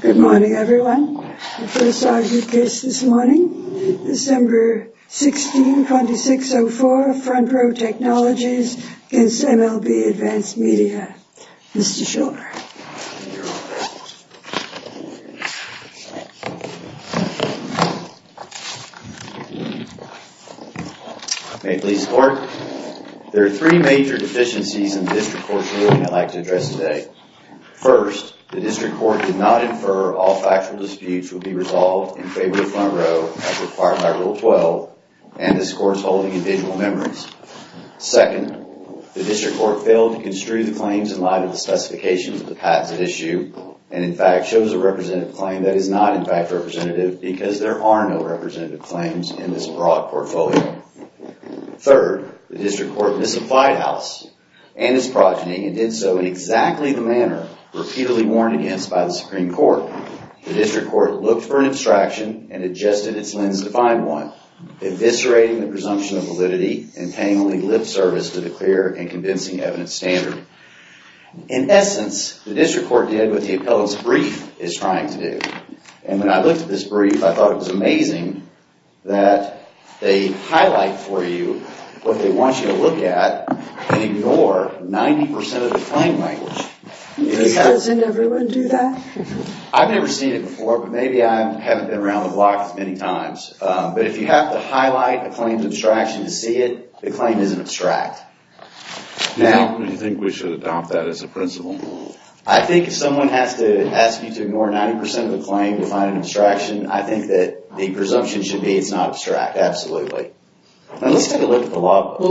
Good morning, everyone. The first item of business this morning, December 16, 2604, Front Row Technologies against MLB Advanced Media. Mr. Schor. May it please the Court. There are three major deficiencies in the District Court's ruling I'd like to address today. First, the District Court did not infer all factual disputes would be resolved in favor of Front Row as required by Rule 12 and this Court's holding individual memories. Second, the District Court failed to construe the claims in light of the specifications of the patents at issue and in fact chose a representative claim that is not in fact representative because there are no representative claims in this broad portfolio. Third, the District Court misapplied House and its progeny and did so in exactly the manner repeatedly warned against by the Supreme Court. Fourth, the District Court looked for an abstraction and adjusted its lens to find one, eviscerating the presumption of validity and tangling lip service to the clear and convincing evidence standard. In essence, the District Court did what the appellant's brief is trying to do. And when I looked at this brief, I thought it was amazing that they highlight for you what they want you to look at and ignore 90 percent of the claim language. Doesn't everyone do that? I've never seen it before, but maybe I haven't been around the block as many times. But if you have to highlight a claim's abstraction to see it, the claim isn't abstract. Do you think we should adopt that as a principle? I think if someone has to ask you to ignore 90 percent of the claim to find an abstraction, I think that the presumption should be it's not abstract, absolutely. Let's take a look at the law book.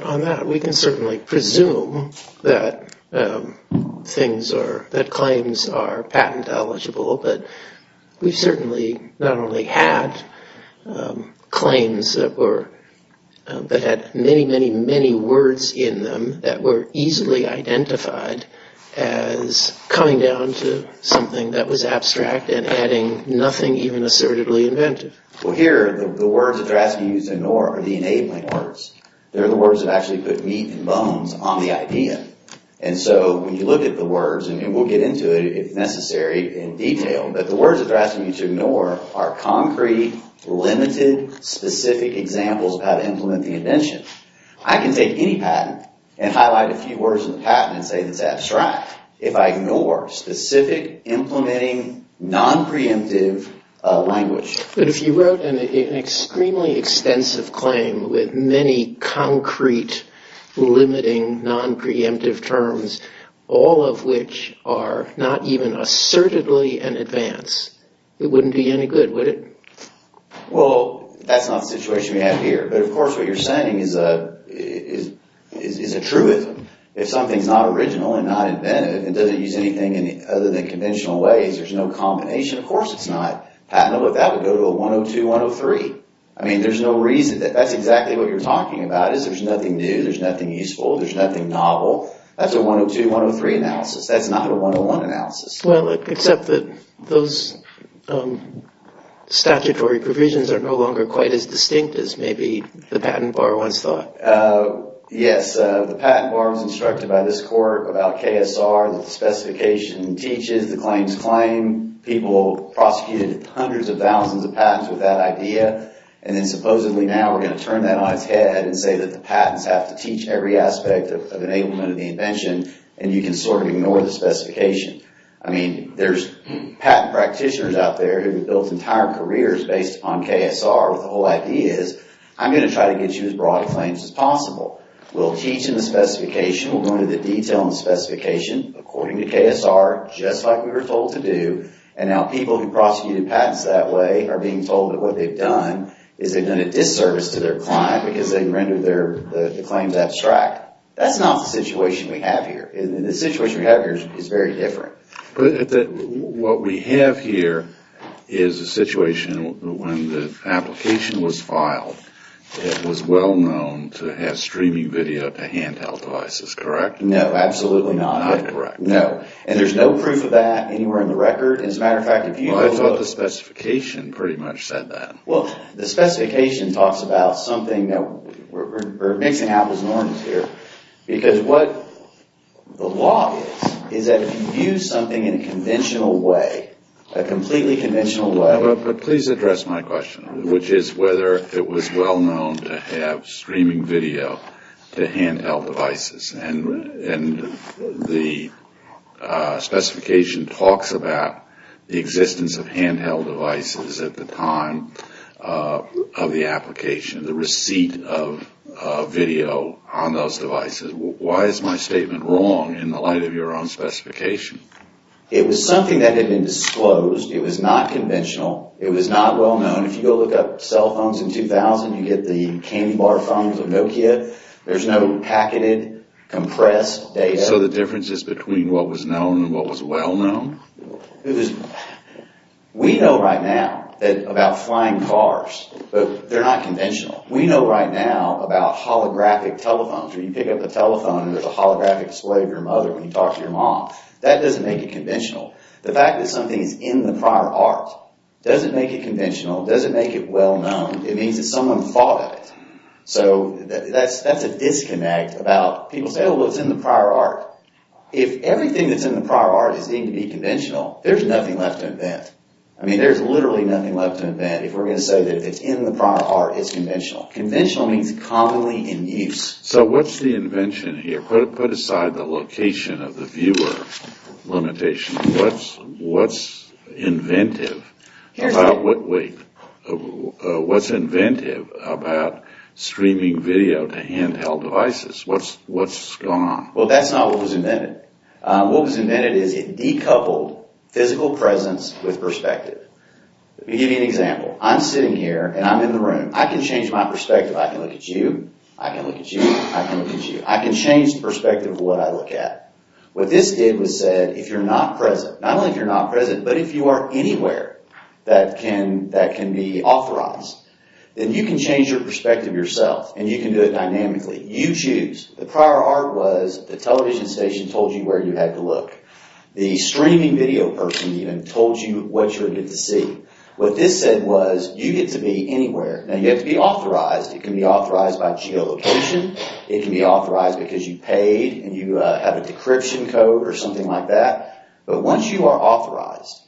On that, we can certainly presume that claims are patent eligible, but we've certainly not only had claims that had many, many, many words in them that were easily identified as coming down to something that was abstract and adding nothing even assertively inventive. Well, here, the words that they're asking you to ignore are the enabling words. They're the words that actually put meat and bones on the idea. And so when you look at the words, and we'll get into it if necessary in detail, but the words that they're asking you to ignore are concrete, limited, specific examples of how to implement the invention. I can take any patent and highlight a few words in the patent and say it's abstract if I ignore specific, implementing, non-preemptive language. But if you wrote an extremely extensive claim with many concrete, limiting, non-preemptive terms, all of which are not even assertively in advance, it wouldn't be any good, would it? Well, that's not the situation we have here, but of course what you're saying is a truism. If something's not original and not inventive and doesn't use anything other than conventional ways, there's no combination, of course it's not patentable, but that would go to a 102-103. I mean, there's no reason. That's exactly what you're talking about is there's nothing new, there's nothing useful, there's nothing novel. That's a 102-103 analysis. That's not a 101 analysis. Well, except that those statutory provisions are no longer quite as distinct as maybe the patent borrower once thought. Yes, the patent borrower was instructed by this court about KSR, that the specification teaches the claims claim. People prosecuted hundreds of thousands of patents with that idea, and then supposedly now we're going to turn that on its head and say that the patents have to teach every aspect of enablement of the invention, and you can sort of ignore the specification. I mean, there's patent practitioners out there who have built entire careers based on KSR where the whole idea is I'm going to try to get you as broad a claim as possible. We'll teach in the specification, we'll go into the detail in the specification according to KSR just like we were told to do, and now people who prosecuted patents that way are being told that what they've done is they've done a disservice to their client because they rendered the claims abstract. That's not the situation we have here, and the situation we have here is very different. But what we have here is a situation when the application was filed that was well known to have streaming video to handheld devices, correct? No, absolutely not. Not correct. No, and there's no proof of that anywhere in the record. As a matter of fact, if you go look… Well, I thought the specification pretty much said that. Well, the specification talks about something that we're mixing apples and oranges here because what the law is is that if you use something in a conventional way, a completely conventional way… And the specification talks about the existence of handheld devices at the time of the application, the receipt of video on those devices. Why is my statement wrong in the light of your own specification? It was something that had been disclosed. It was not conventional. It was not well known. If you go look up cell phones in 2000, you get the candy bar phones of Nokia. There's no packeted, compressed data. So the difference is between what was known and what was well known? We know right now about flying cars, but they're not conventional. We know right now about holographic telephones where you pick up the telephone and there's a holographic display of your mother when you talk to your mom. That doesn't make it conventional. The fact that something is in the prior art doesn't make it conventional, doesn't make it well known. It means that someone thought of it. So that's a disconnect. People say, well, it's in the prior art. If everything that's in the prior art is deemed to be conventional, there's nothing left to invent. I mean, there's literally nothing left to invent if we're going to say that if it's in the prior art, it's conventional. Conventional means commonly in use. So what's the invention here? Put aside the location of the viewer limitation. What's inventive about streaming video to handheld devices? What's going on? Well, that's not what was invented. What was invented is it decoupled physical presence with perspective. Let me give you an example. I'm sitting here and I'm in the room. I can change my perspective. I can look at you. I can look at you. I can change the perspective of what I look at. What this did was said, if you're not present, not only if you're not present, but if you are anywhere that can be authorized, then you can change your perspective yourself and you can do it dynamically. You choose. The prior art was the television station told you where you had to look. The streaming video person even told you what you were going to see. What this said was you get to be anywhere. Now, you have to be authorized. It can be authorized by geolocation. It can be authorized because you paid and you have a decryption code or something like that. But once you are authorized,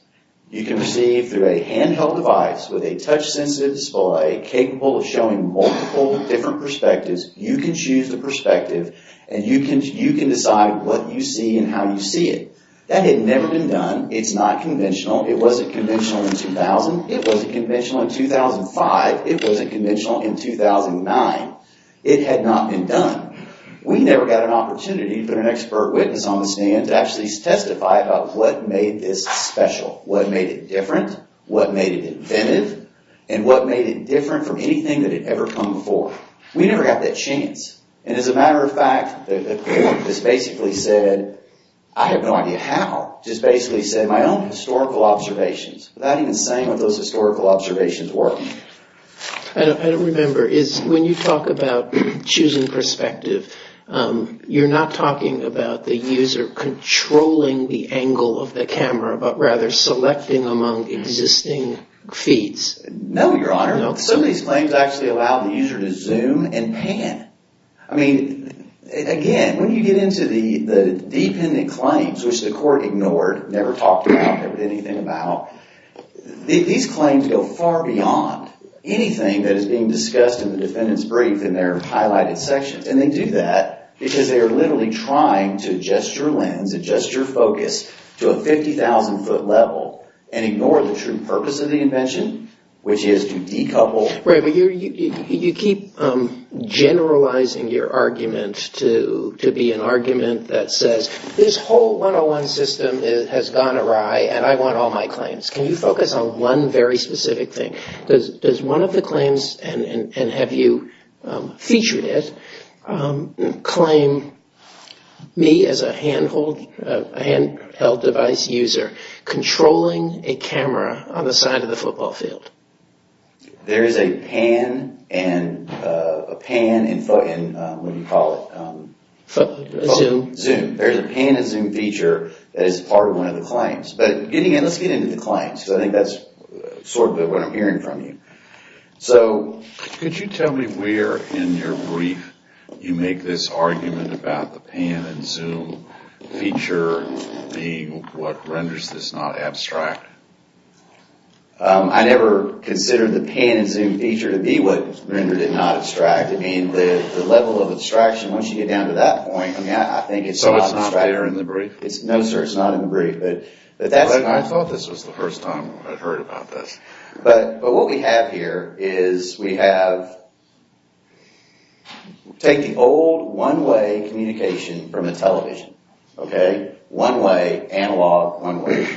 you can receive through a handheld device with a touch sensitive display capable of showing multiple different perspectives. You can choose the perspective and you can decide what you see and how you see it. That had never been done. It's not conventional. It wasn't conventional in 2000. It wasn't conventional in 2005. It wasn't conventional in 2009. It had not been done. We never got an opportunity to put an expert witness on the stand to actually testify about what made this special, what made it different, what made it inventive, and what made it different from anything that had ever come before. We never got that chance. And as a matter of fact, the court just basically said, I have no idea how, just basically said my own historical observations without even saying what those historical observations were. I don't remember. When you talk about choosing perspective, you're not talking about the user controlling the angle of the camera, but rather selecting among existing feeds. No, Your Honor. Some of these claims actually allow the user to zoom and pan. I mean, again, when you get into the dependent claims, which the court ignored, never talked about, never did anything about, these claims go far beyond anything that is being discussed in the defendant's brief in their highlighted sections. And they do that because they are literally trying to adjust your lens, adjust your focus to a 50,000 foot level and ignore the true purpose of the invention, which is to decouple. Right, but you keep generalizing your argument to be an argument that says, this whole 101 system has gone awry and I want all my claims. Can you focus on one very specific thing? Does one of the claims, and have you featured it, claim me as a handheld device user controlling a camera on the side of the football field? There is a pan and zoom feature that is part of one of the claims. But let's get into the claims, because I think that's sort of what I'm hearing from you. Could you tell me where in your brief you make this argument about the pan and zoom feature being what renders this not abstract? I never considered the pan and zoom feature to be what rendered it not abstract. I mean the level of abstraction, once you get down to that point, I think it's not abstract. So it's not there in the brief? No sir, it's not in the brief. I thought this was the first time I'd heard about this. But what we have here is we have, take the old one way communication from a television. One way, analog, one way.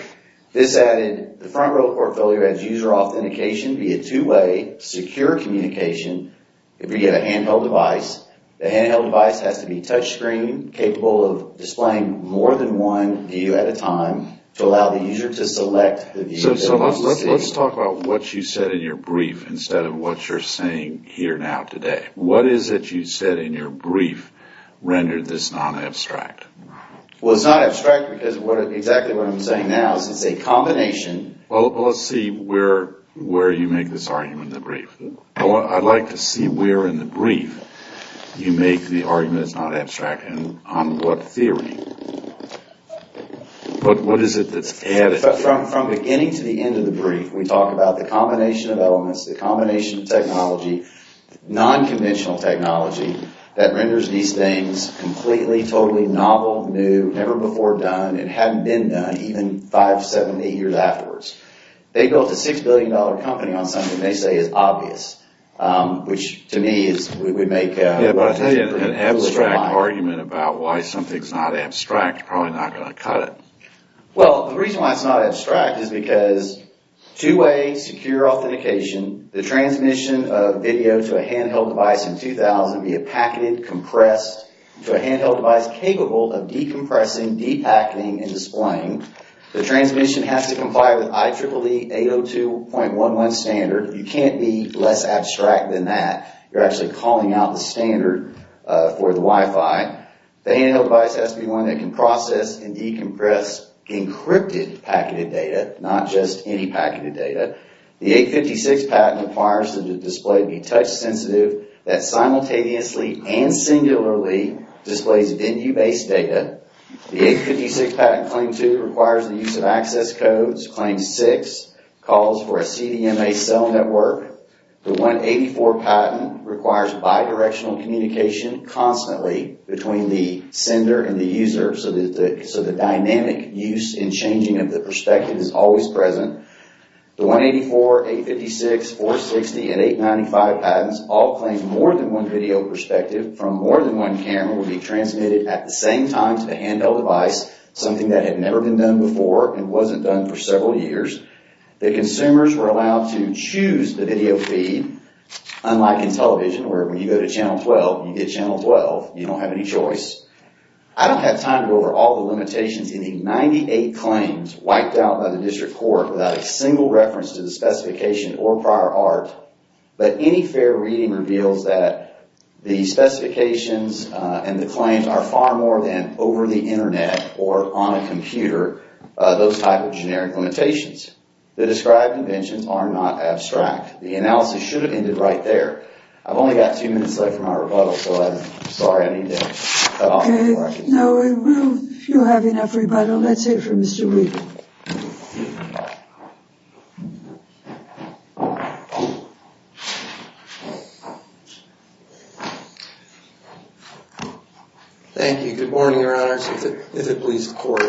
This added the front row portfolio as user authentication via two way secure communication via a handheld device. The handheld device has to be touch screen, capable of displaying more than one view at a time, to allow the user to select the view they want to see. So let's talk about what you said in your brief instead of what you're saying here now today. What is it you said in your brief rendered this not abstract? Well it's not abstract because exactly what I'm saying now is it's a combination. Well let's see where you make this argument in the brief. I'd like to see where in the brief you make the argument it's not abstract and on what theory. But what is it that's added? From beginning to the end of the brief we talk about the combination of elements, the combination of technology, non-conventional technology, that renders these things completely, totally novel, new, never before done, and hadn't been done even five, seven, eight years afterwards. They built a six billion dollar company on something they say is obvious, which to me is, we make a foolish lie. Yeah but I'll tell you an abstract argument about why something's not abstract is probably not going to cut it. Well the reason why it's not abstract is because two way secure authentication, the transmission of video to a handheld device in 2000 via packeted compressed to a handheld device capable of decompressing, depacketing, and displaying. The transmission has to comply with IEEE 802.11 standard. You can't be less abstract than that. You're actually calling out the standard for the Wi-Fi. The handheld device has to be one that can process and decompress encrypted packeted data, not just any packeted data. The 856 patent requires that the display be touch sensitive, that simultaneously and singularly displays venue based data. The 856 patent claim 2 requires the use of access codes. Claim 6 calls for a CDMA cell network. The 184 patent requires bidirectional communication constantly between the sender and the user, so the dynamic use in changing of the perspective is always present. The 184, 856, 460, and 895 patents all claim more than one video perspective from more than one camera will be transmitted at the same time to the handheld device, something that had never been done before and wasn't done for several years. The consumers were allowed to choose the video feed, unlike in television where when you go to channel 12, you get channel 12. You don't have any choice. I don't have time to go over all the limitations in the 98 claims wiped out by the district court without a single reference to the specification or prior art, but any fair reading reveals that the specifications and the claims are far more than over the internet or on a computer, those type of generic limitations. The described inventions are not abstract. The analysis should have ended right there. I've only got two minutes left for my rebuttal, so I'm sorry. I need to cut off before I continue. No, you'll have enough rebuttal. Let's hear from Mr. Wheaton. Thank you. Good morning, Your Honors, if it please the court.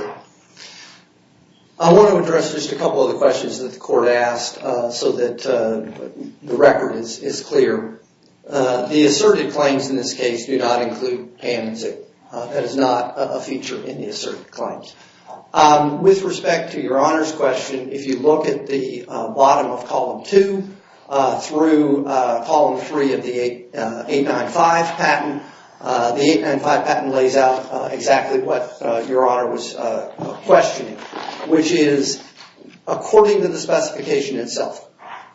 I want to address just a couple of the questions that the court asked so that the record is clear. The asserted claims in this case do not include payments. That is not a feature in the asserted claims. With respect to Your Honor's question, if you look at the bottom of Column 2 through Column 3 of the 895 patent, the 895 patent lays out exactly what Your Honor was questioning, which is according to the specification itself.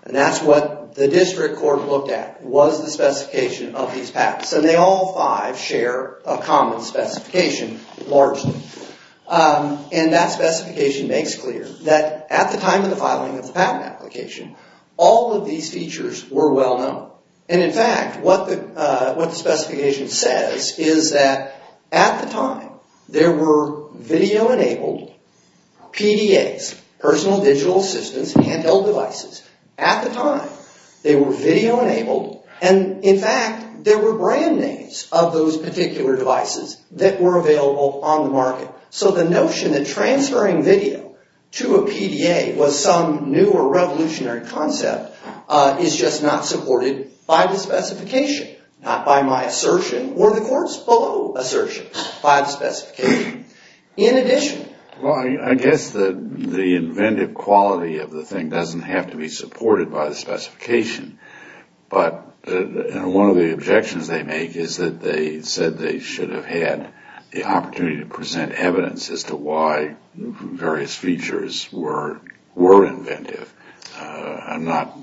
That's what the district court looked at was the specification of these patents. They all five share a common specification, largely. That specification makes clear that at the time of the filing of the patent application, all of these features were well known. In fact, what the specification says is that at the time, there were video-enabled PDAs, personal digital assistance handheld devices. At the time, they were video-enabled, and in fact, there were brand names of those particular devices that were available on the market. So the notion that transferring video to a PDA was some new or revolutionary concept is just not supported by the specification, not by my assertion or the court's below assertion by the specification. In addition... Well, I guess the inventive quality of the thing doesn't have to be supported by the specification, but one of the objections they make is that they said they should have had the opportunity to present evidence as to why various features were inventive. I'm not...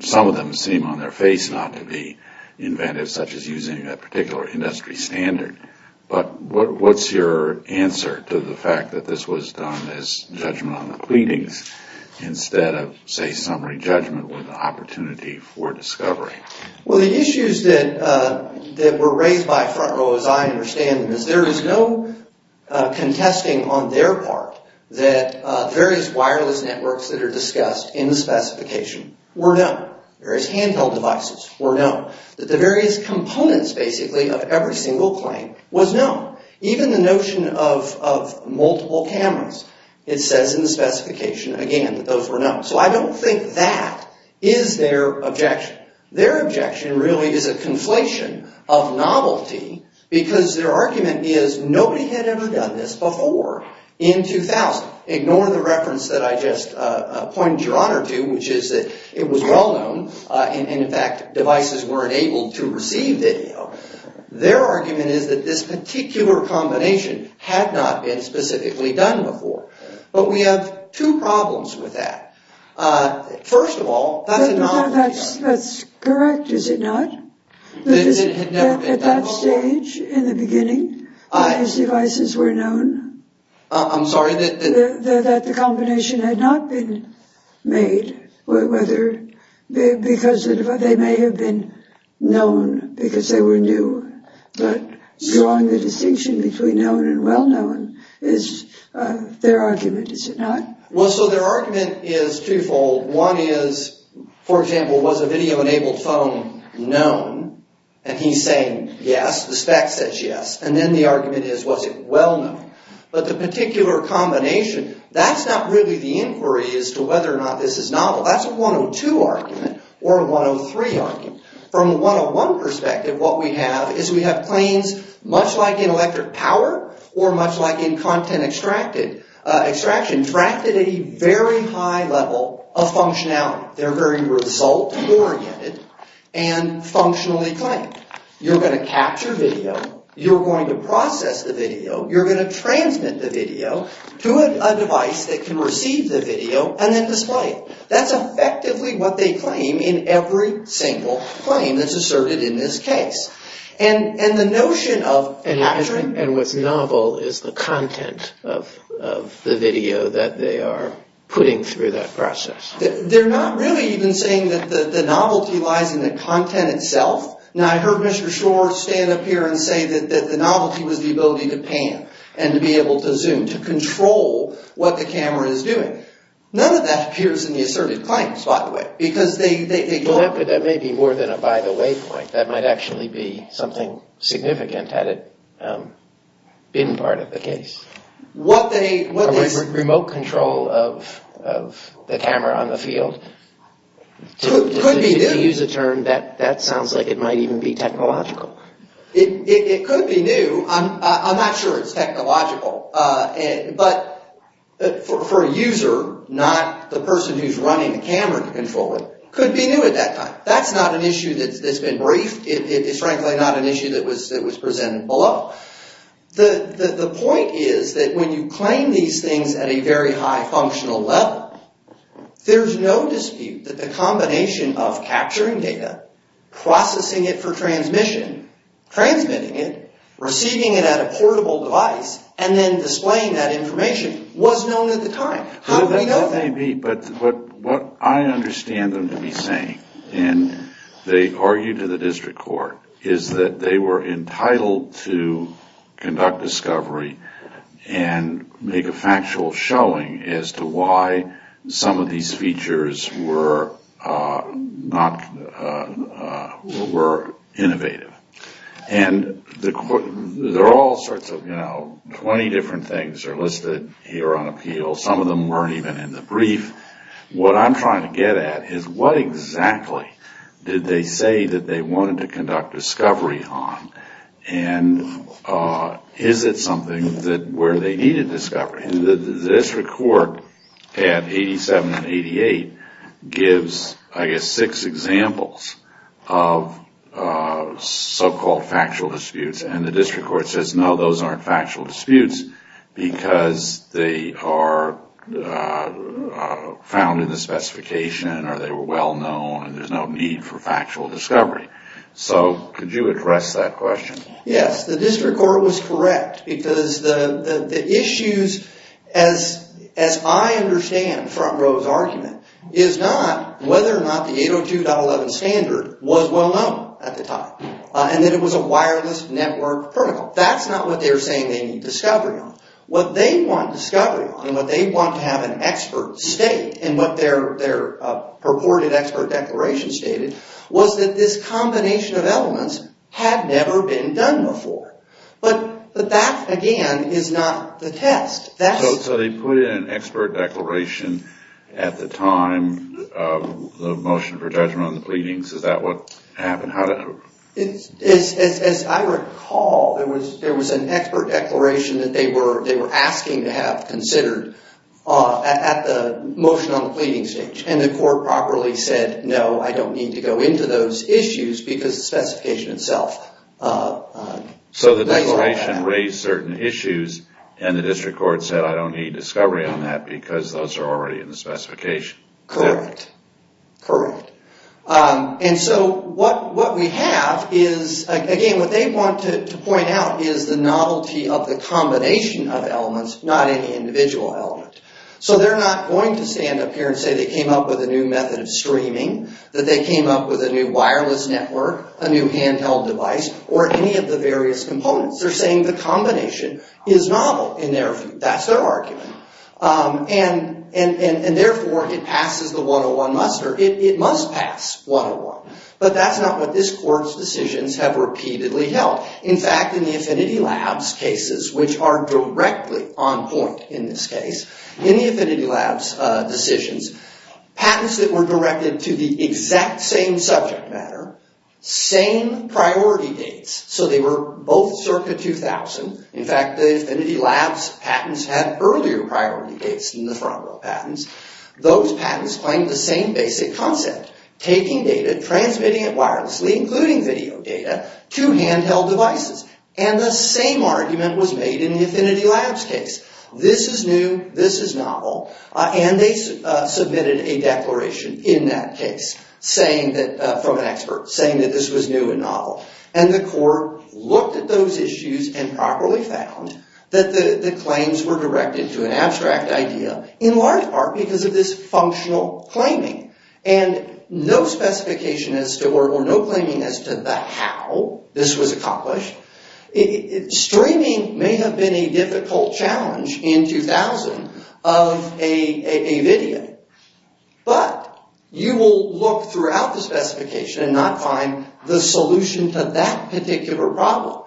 Some of them seem on their face not to be inventive, such as using a particular industry standard. But what's your answer to the fact that this was done as judgment on the pleadings instead of, say, summary judgment with an opportunity for discovery? Well, the issues that were raised by FrontRow, as I understand them, there is no contesting on their part that various wireless networks that are discussed in the specification were known, various handheld devices were known, that the various components, basically, of every single claim was known. Even the notion of multiple cameras, it says in the specification, again, that those were known. So I don't think that is their objection. Their objection really is a conflation of novelty because their argument is nobody had ever done this before in 2000. Ignore the reference that I just pointed your honor to, which is that it was well known and, in fact, devices weren't able to receive video. Their argument is that this particular combination had not been specifically done before. But we have two problems with that. First of all, that's a novelty argument. That's correct, is it not? At that stage, in the beginning, these devices were known. I'm sorry? That the combination had not been made, because they may have been known because they were new. But drawing the distinction between known and well known is their argument, is it not? Well, so their argument is twofold. One is, for example, was a video-enabled phone known? And he's saying yes, the spec says yes. And then the argument is, was it well known? But the particular combination, that's not really the inquiry as to whether or not this is novel. That's a 102 argument or a 103 argument. From a 101 perspective, what we have is we have planes, much like in electric power or much like in content extraction, contracted at a very high level of functionality. They're very result-oriented and functionally claimed. You're going to capture video. You're going to process the video. You're going to transmit the video to a device that can receive the video and then display it. That's effectively what they claim in every single claim that's asserted in this case. And the notion of capturing... And what's novel is the content of the video that they are putting through that process. They're not really even saying that the novelty lies in the content itself. Now, I heard Mr. Schor stand up here and say that the novelty was the ability to pan and to be able to zoom, to control what the camera is doing. None of that appears in the asserted claims, by the way, because they... Well, that may be more than a by-the-way point. That might actually be something significant had it been part of the case. What they... Remote control of the camera on the field. Could be new. If you use the term, that sounds like it might even be technological. It could be new. I'm not sure it's technological. But for a user, not the person who's running the camera to control it, could be new at that time. That's not an issue that's been briefed. It's frankly not an issue that was presented below. The point is that when you claim these things at a very high functional level, there's no dispute that the combination of capturing data, processing it for transmission, transmitting it, receiving it at a portable device, and then displaying that information was known at the time. How could we know that? That may be. But what I understand them to be saying, and they argue to the district court, is that they were entitled to conduct discovery and make a factual showing as to why some of these features were innovative. And there are all sorts of, you know, 20 different things are listed here on appeal. Some of them weren't even in the brief. What I'm trying to get at is what exactly did they say that they wanted to conduct discovery on, and is it something where they needed discovery? The district court at 87 and 88 gives, I guess, six examples of so-called factual disputes. And the district court says, no, those aren't factual disputes, because they are found in the specification, or they were well known, and there's no need for factual discovery. So could you address that question? Yes. The district court was correct, because the issues, as I understand front row's argument, is not whether or not the 802.11 standard was well known at the time, and that it was a wireless network protocol. That's not what they're saying they need discovery on. What they want discovery on, and what they want to have an expert state, and what their purported expert declaration stated, was that this combination of elements had never been done before. But that, again, is not the test. So they put in an expert declaration at the time of the motion for judgment on the pleadings. Is that what happened? As I recall, there was an expert declaration that they were asking to have considered at the motion on the pleading stage, and the court properly said, no, I don't need to go into those issues, because the specification itself. So the declaration raised certain issues, and the district court said, I don't need discovery on that, because those are already in the specification. Correct. Correct. And so what we have is, again, what they want to point out is the novelty of the combination of elements, not any individual element. So they're not going to stand up here and say they came up with a new method of streaming, that they came up with a new wireless network, a new handheld device, or any of the various components. They're saying the combination is novel in their view. That's their argument. And therefore, it passes the 101 muster. It must pass 101. But that's not what this court's decisions have repeatedly held. In fact, in the Affinity Labs cases, which are directly on point in this case, in the Affinity Labs decisions, patents that were directed to the exact same subject matter, same priority dates, so they were both circa 2000. In fact, the Affinity Labs patents had earlier priority dates than the Front Row patents. Those patents claimed the same basic concept, taking data, transmitting it wirelessly, including video data, to handheld devices. And the same argument was made in the Affinity Labs case. This is new. This is novel. And they submitted a declaration in that case from an expert, saying that this was new and novel. And the court looked at those issues and properly found that the claims were directed to an abstract idea, in large part because of this functional claiming. And no specification or no claiming as to the how this was accomplished. Streaming may have been a difficult challenge in 2000 of a video. But you will look throughout the specification and not find the solution to that particular problem,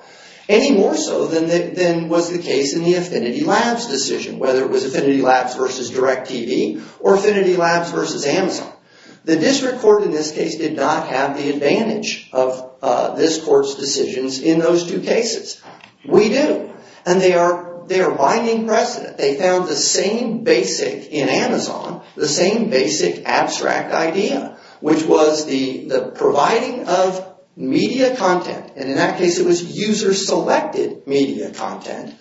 any more so than was the case in the Affinity Labs decision, whether it was Affinity Labs versus DirecTV, or Affinity Labs versus Amazon. The district court in this case did not have the advantage of this court's decisions in those two cases. We do. And they are binding precedent. They found the same basic in Amazon, the same basic abstract idea, which was the providing of media content. And in that case, it was user-selected media content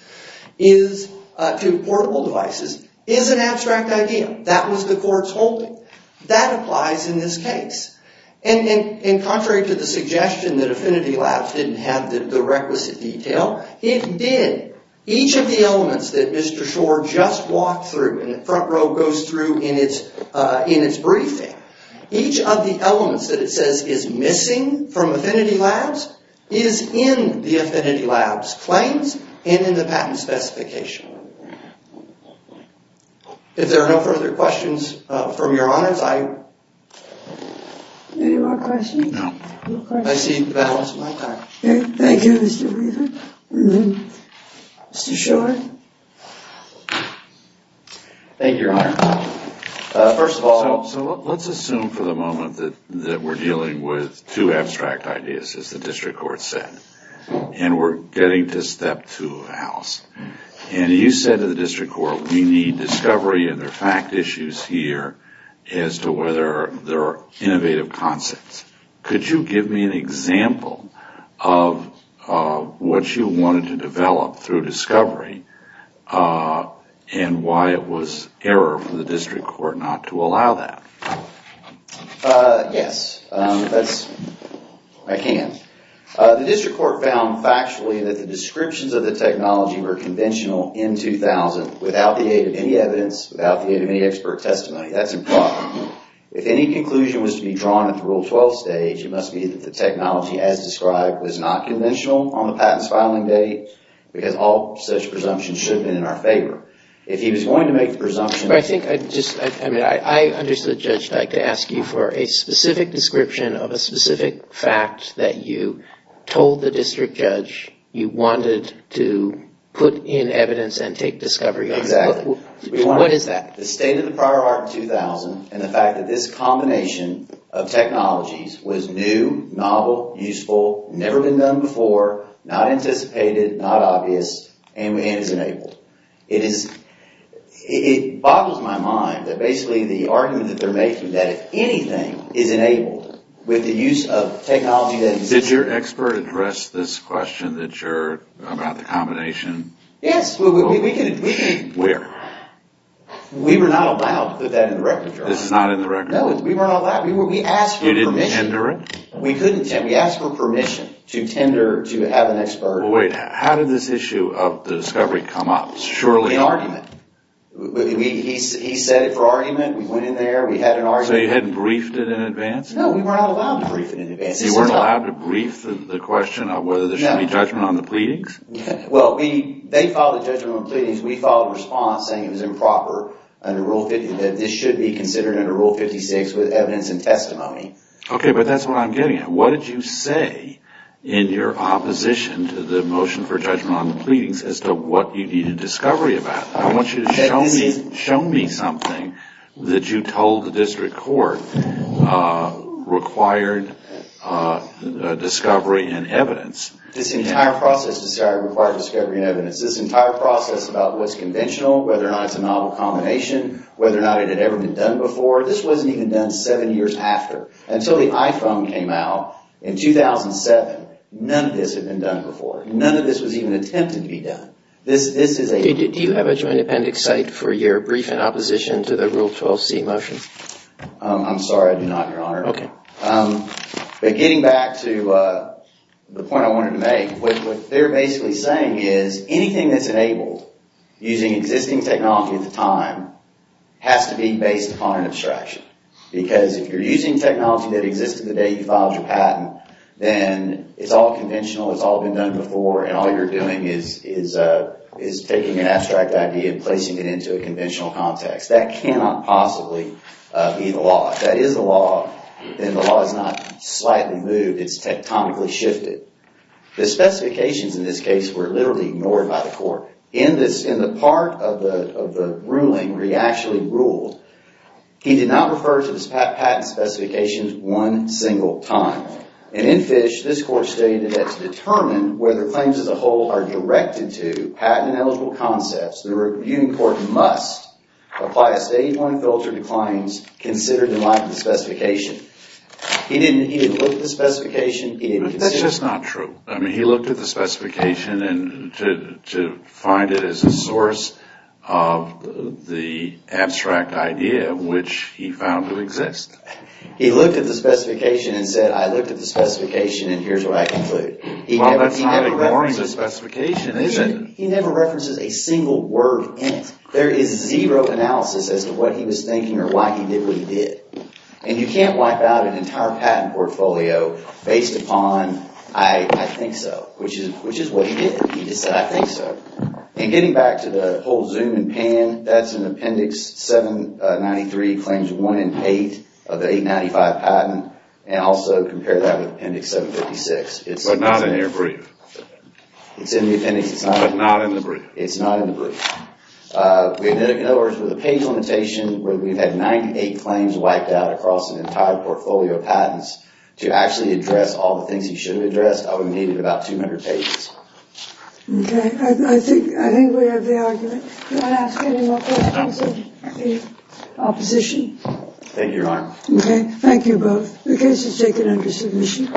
to portable devices, is an abstract idea. That was the court's holding. That applies in this case. And contrary to the suggestion that Affinity Labs didn't have the requisite detail, it did. Each of the elements that Mr. Schor just walked through and the front row goes through in its briefing, each of the elements that it says is missing from Affinity Labs is in the Affinity Labs claims and in the patent specification. If there are no further questions from your honors, I... Any more questions? No. I see the balance of my time. Thank you, Mr. Reardon. Mr. Schor? Thank you, Your Honor. First of all... So let's assume for the moment that we're dealing with two abstract ideas, as the district court said. And we're getting to step two of the house. And you said to the district court, we need discovery and there are fact issues here as to whether there are innovative concepts. Could you give me an example of what you wanted to develop through discovery and why it was error for the district court not to allow that? Yes. That's... I can. The district court found factually that the descriptions of the technology were conventional in 2000 without the aid of any evidence, without the aid of any expert testimony. That's a problem. If any conclusion was to be drawn at the Rule 12 stage, it must be that the technology, as described, was not conventional on the patent's filing date because all such presumptions should have been in our favor. If he was going to make the presumption... I think I just... I mean, I understood Judge Dyke to ask you for a specific description of a specific fact that you told the district judge you wanted to put in evidence and take discovery. Exactly. What is that? The state of the prior art in 2000 and the fact that this combination of technologies was new, novel, useful, never been done before, not anticipated, not obvious, and is enabled. It is... It boggles my mind that basically the argument that they're making that if anything is enabled with the use of technology... Did your expert address this question that you're... about the combination? Yes. We can... Where? We were not allowed to put that in the record, Your Honor. This is not in the record? No, we were not allowed. We were... We asked for permission. You didn't tender it? We couldn't tender... We asked for permission to tender to have an expert... Well, wait. How did this issue of the discovery come up? Surely... In argument. We... He said it for argument. We went in there. We had an argument. So you hadn't briefed it in advance? No, we were not allowed to brief it in advance. You weren't allowed to brief the question of whether there should be judgment on the pleadings? No. Well, we... We had a response saying it was improper under Rule 50... that this should be considered under Rule 56 with evidence and testimony. Okay, but that's what I'm getting at. What did you say in your opposition to the motion for judgment on the pleadings as to what you needed discovery about? I want you to show me... That this is... Show me something that you told the district court required discovery and evidence. This entire process required discovery and evidence. This entire process about what's conventional, whether or not it's a novel combination, whether or not it had ever been done before. This wasn't even done seven years after. Until the iPhone came out in 2007, none of this had been done before. None of this was even attempted to be done. This is a... Do you have a joint appendix cite for your brief in opposition to the Rule 12c motion? I'm sorry. I do not, Your Honor. Okay. But getting back to the point I wanted to make, what they're basically saying is anything that's enabled using existing technology at the time has to be based upon an abstraction. Because if you're using technology that existed the day you filed your patent, then it's all conventional, it's all been done before, and all you're doing is taking an abstract idea and placing it into a conventional context. That cannot possibly be the law. If that is the law, then the law is not slightly moved. It's tectonically shifted. The specifications in this case were literally ignored by the court. In the part of the ruling where he actually ruled, he did not refer to the patent specifications one single time. And in Fish, this court stated that to determine whether claims as a whole are directed to patent-eligible concepts, the reviewing court must apply a Stage 1 filter to claims considered in light of the specification. He didn't even look at the specification. But that's just not true. I mean, he looked at the specification to find it as a source of the abstract idea which he found to exist. He looked at the specification and said, I looked at the specification and here's what I conclude. Well, that's not ignoring the specification, is it? He never references a single word in it. There is zero analysis as to what he was thinking or why he did what he did. And you can't wipe out an entire patent portfolio based upon, I think so, which is what he did. He just said, I think so. And getting back to the whole zoom and pan, that's an Appendix 793, Claims 1 and 8 of the 895 patent, and also compare that with Appendix 756. But not in your brief. It's in the appendix. But not in the brief. It's not in the brief. In other words, with a page limitation where we've had 98 claims wiped out across an entire portfolio of patents to actually address all the things he should have addressed, we've needed about 200 pages. Okay. I think we have the argument. Do you want to ask any more questions of the opposition? Thank you, Your Honor. Okay. Thank you both. The case is taken under submission.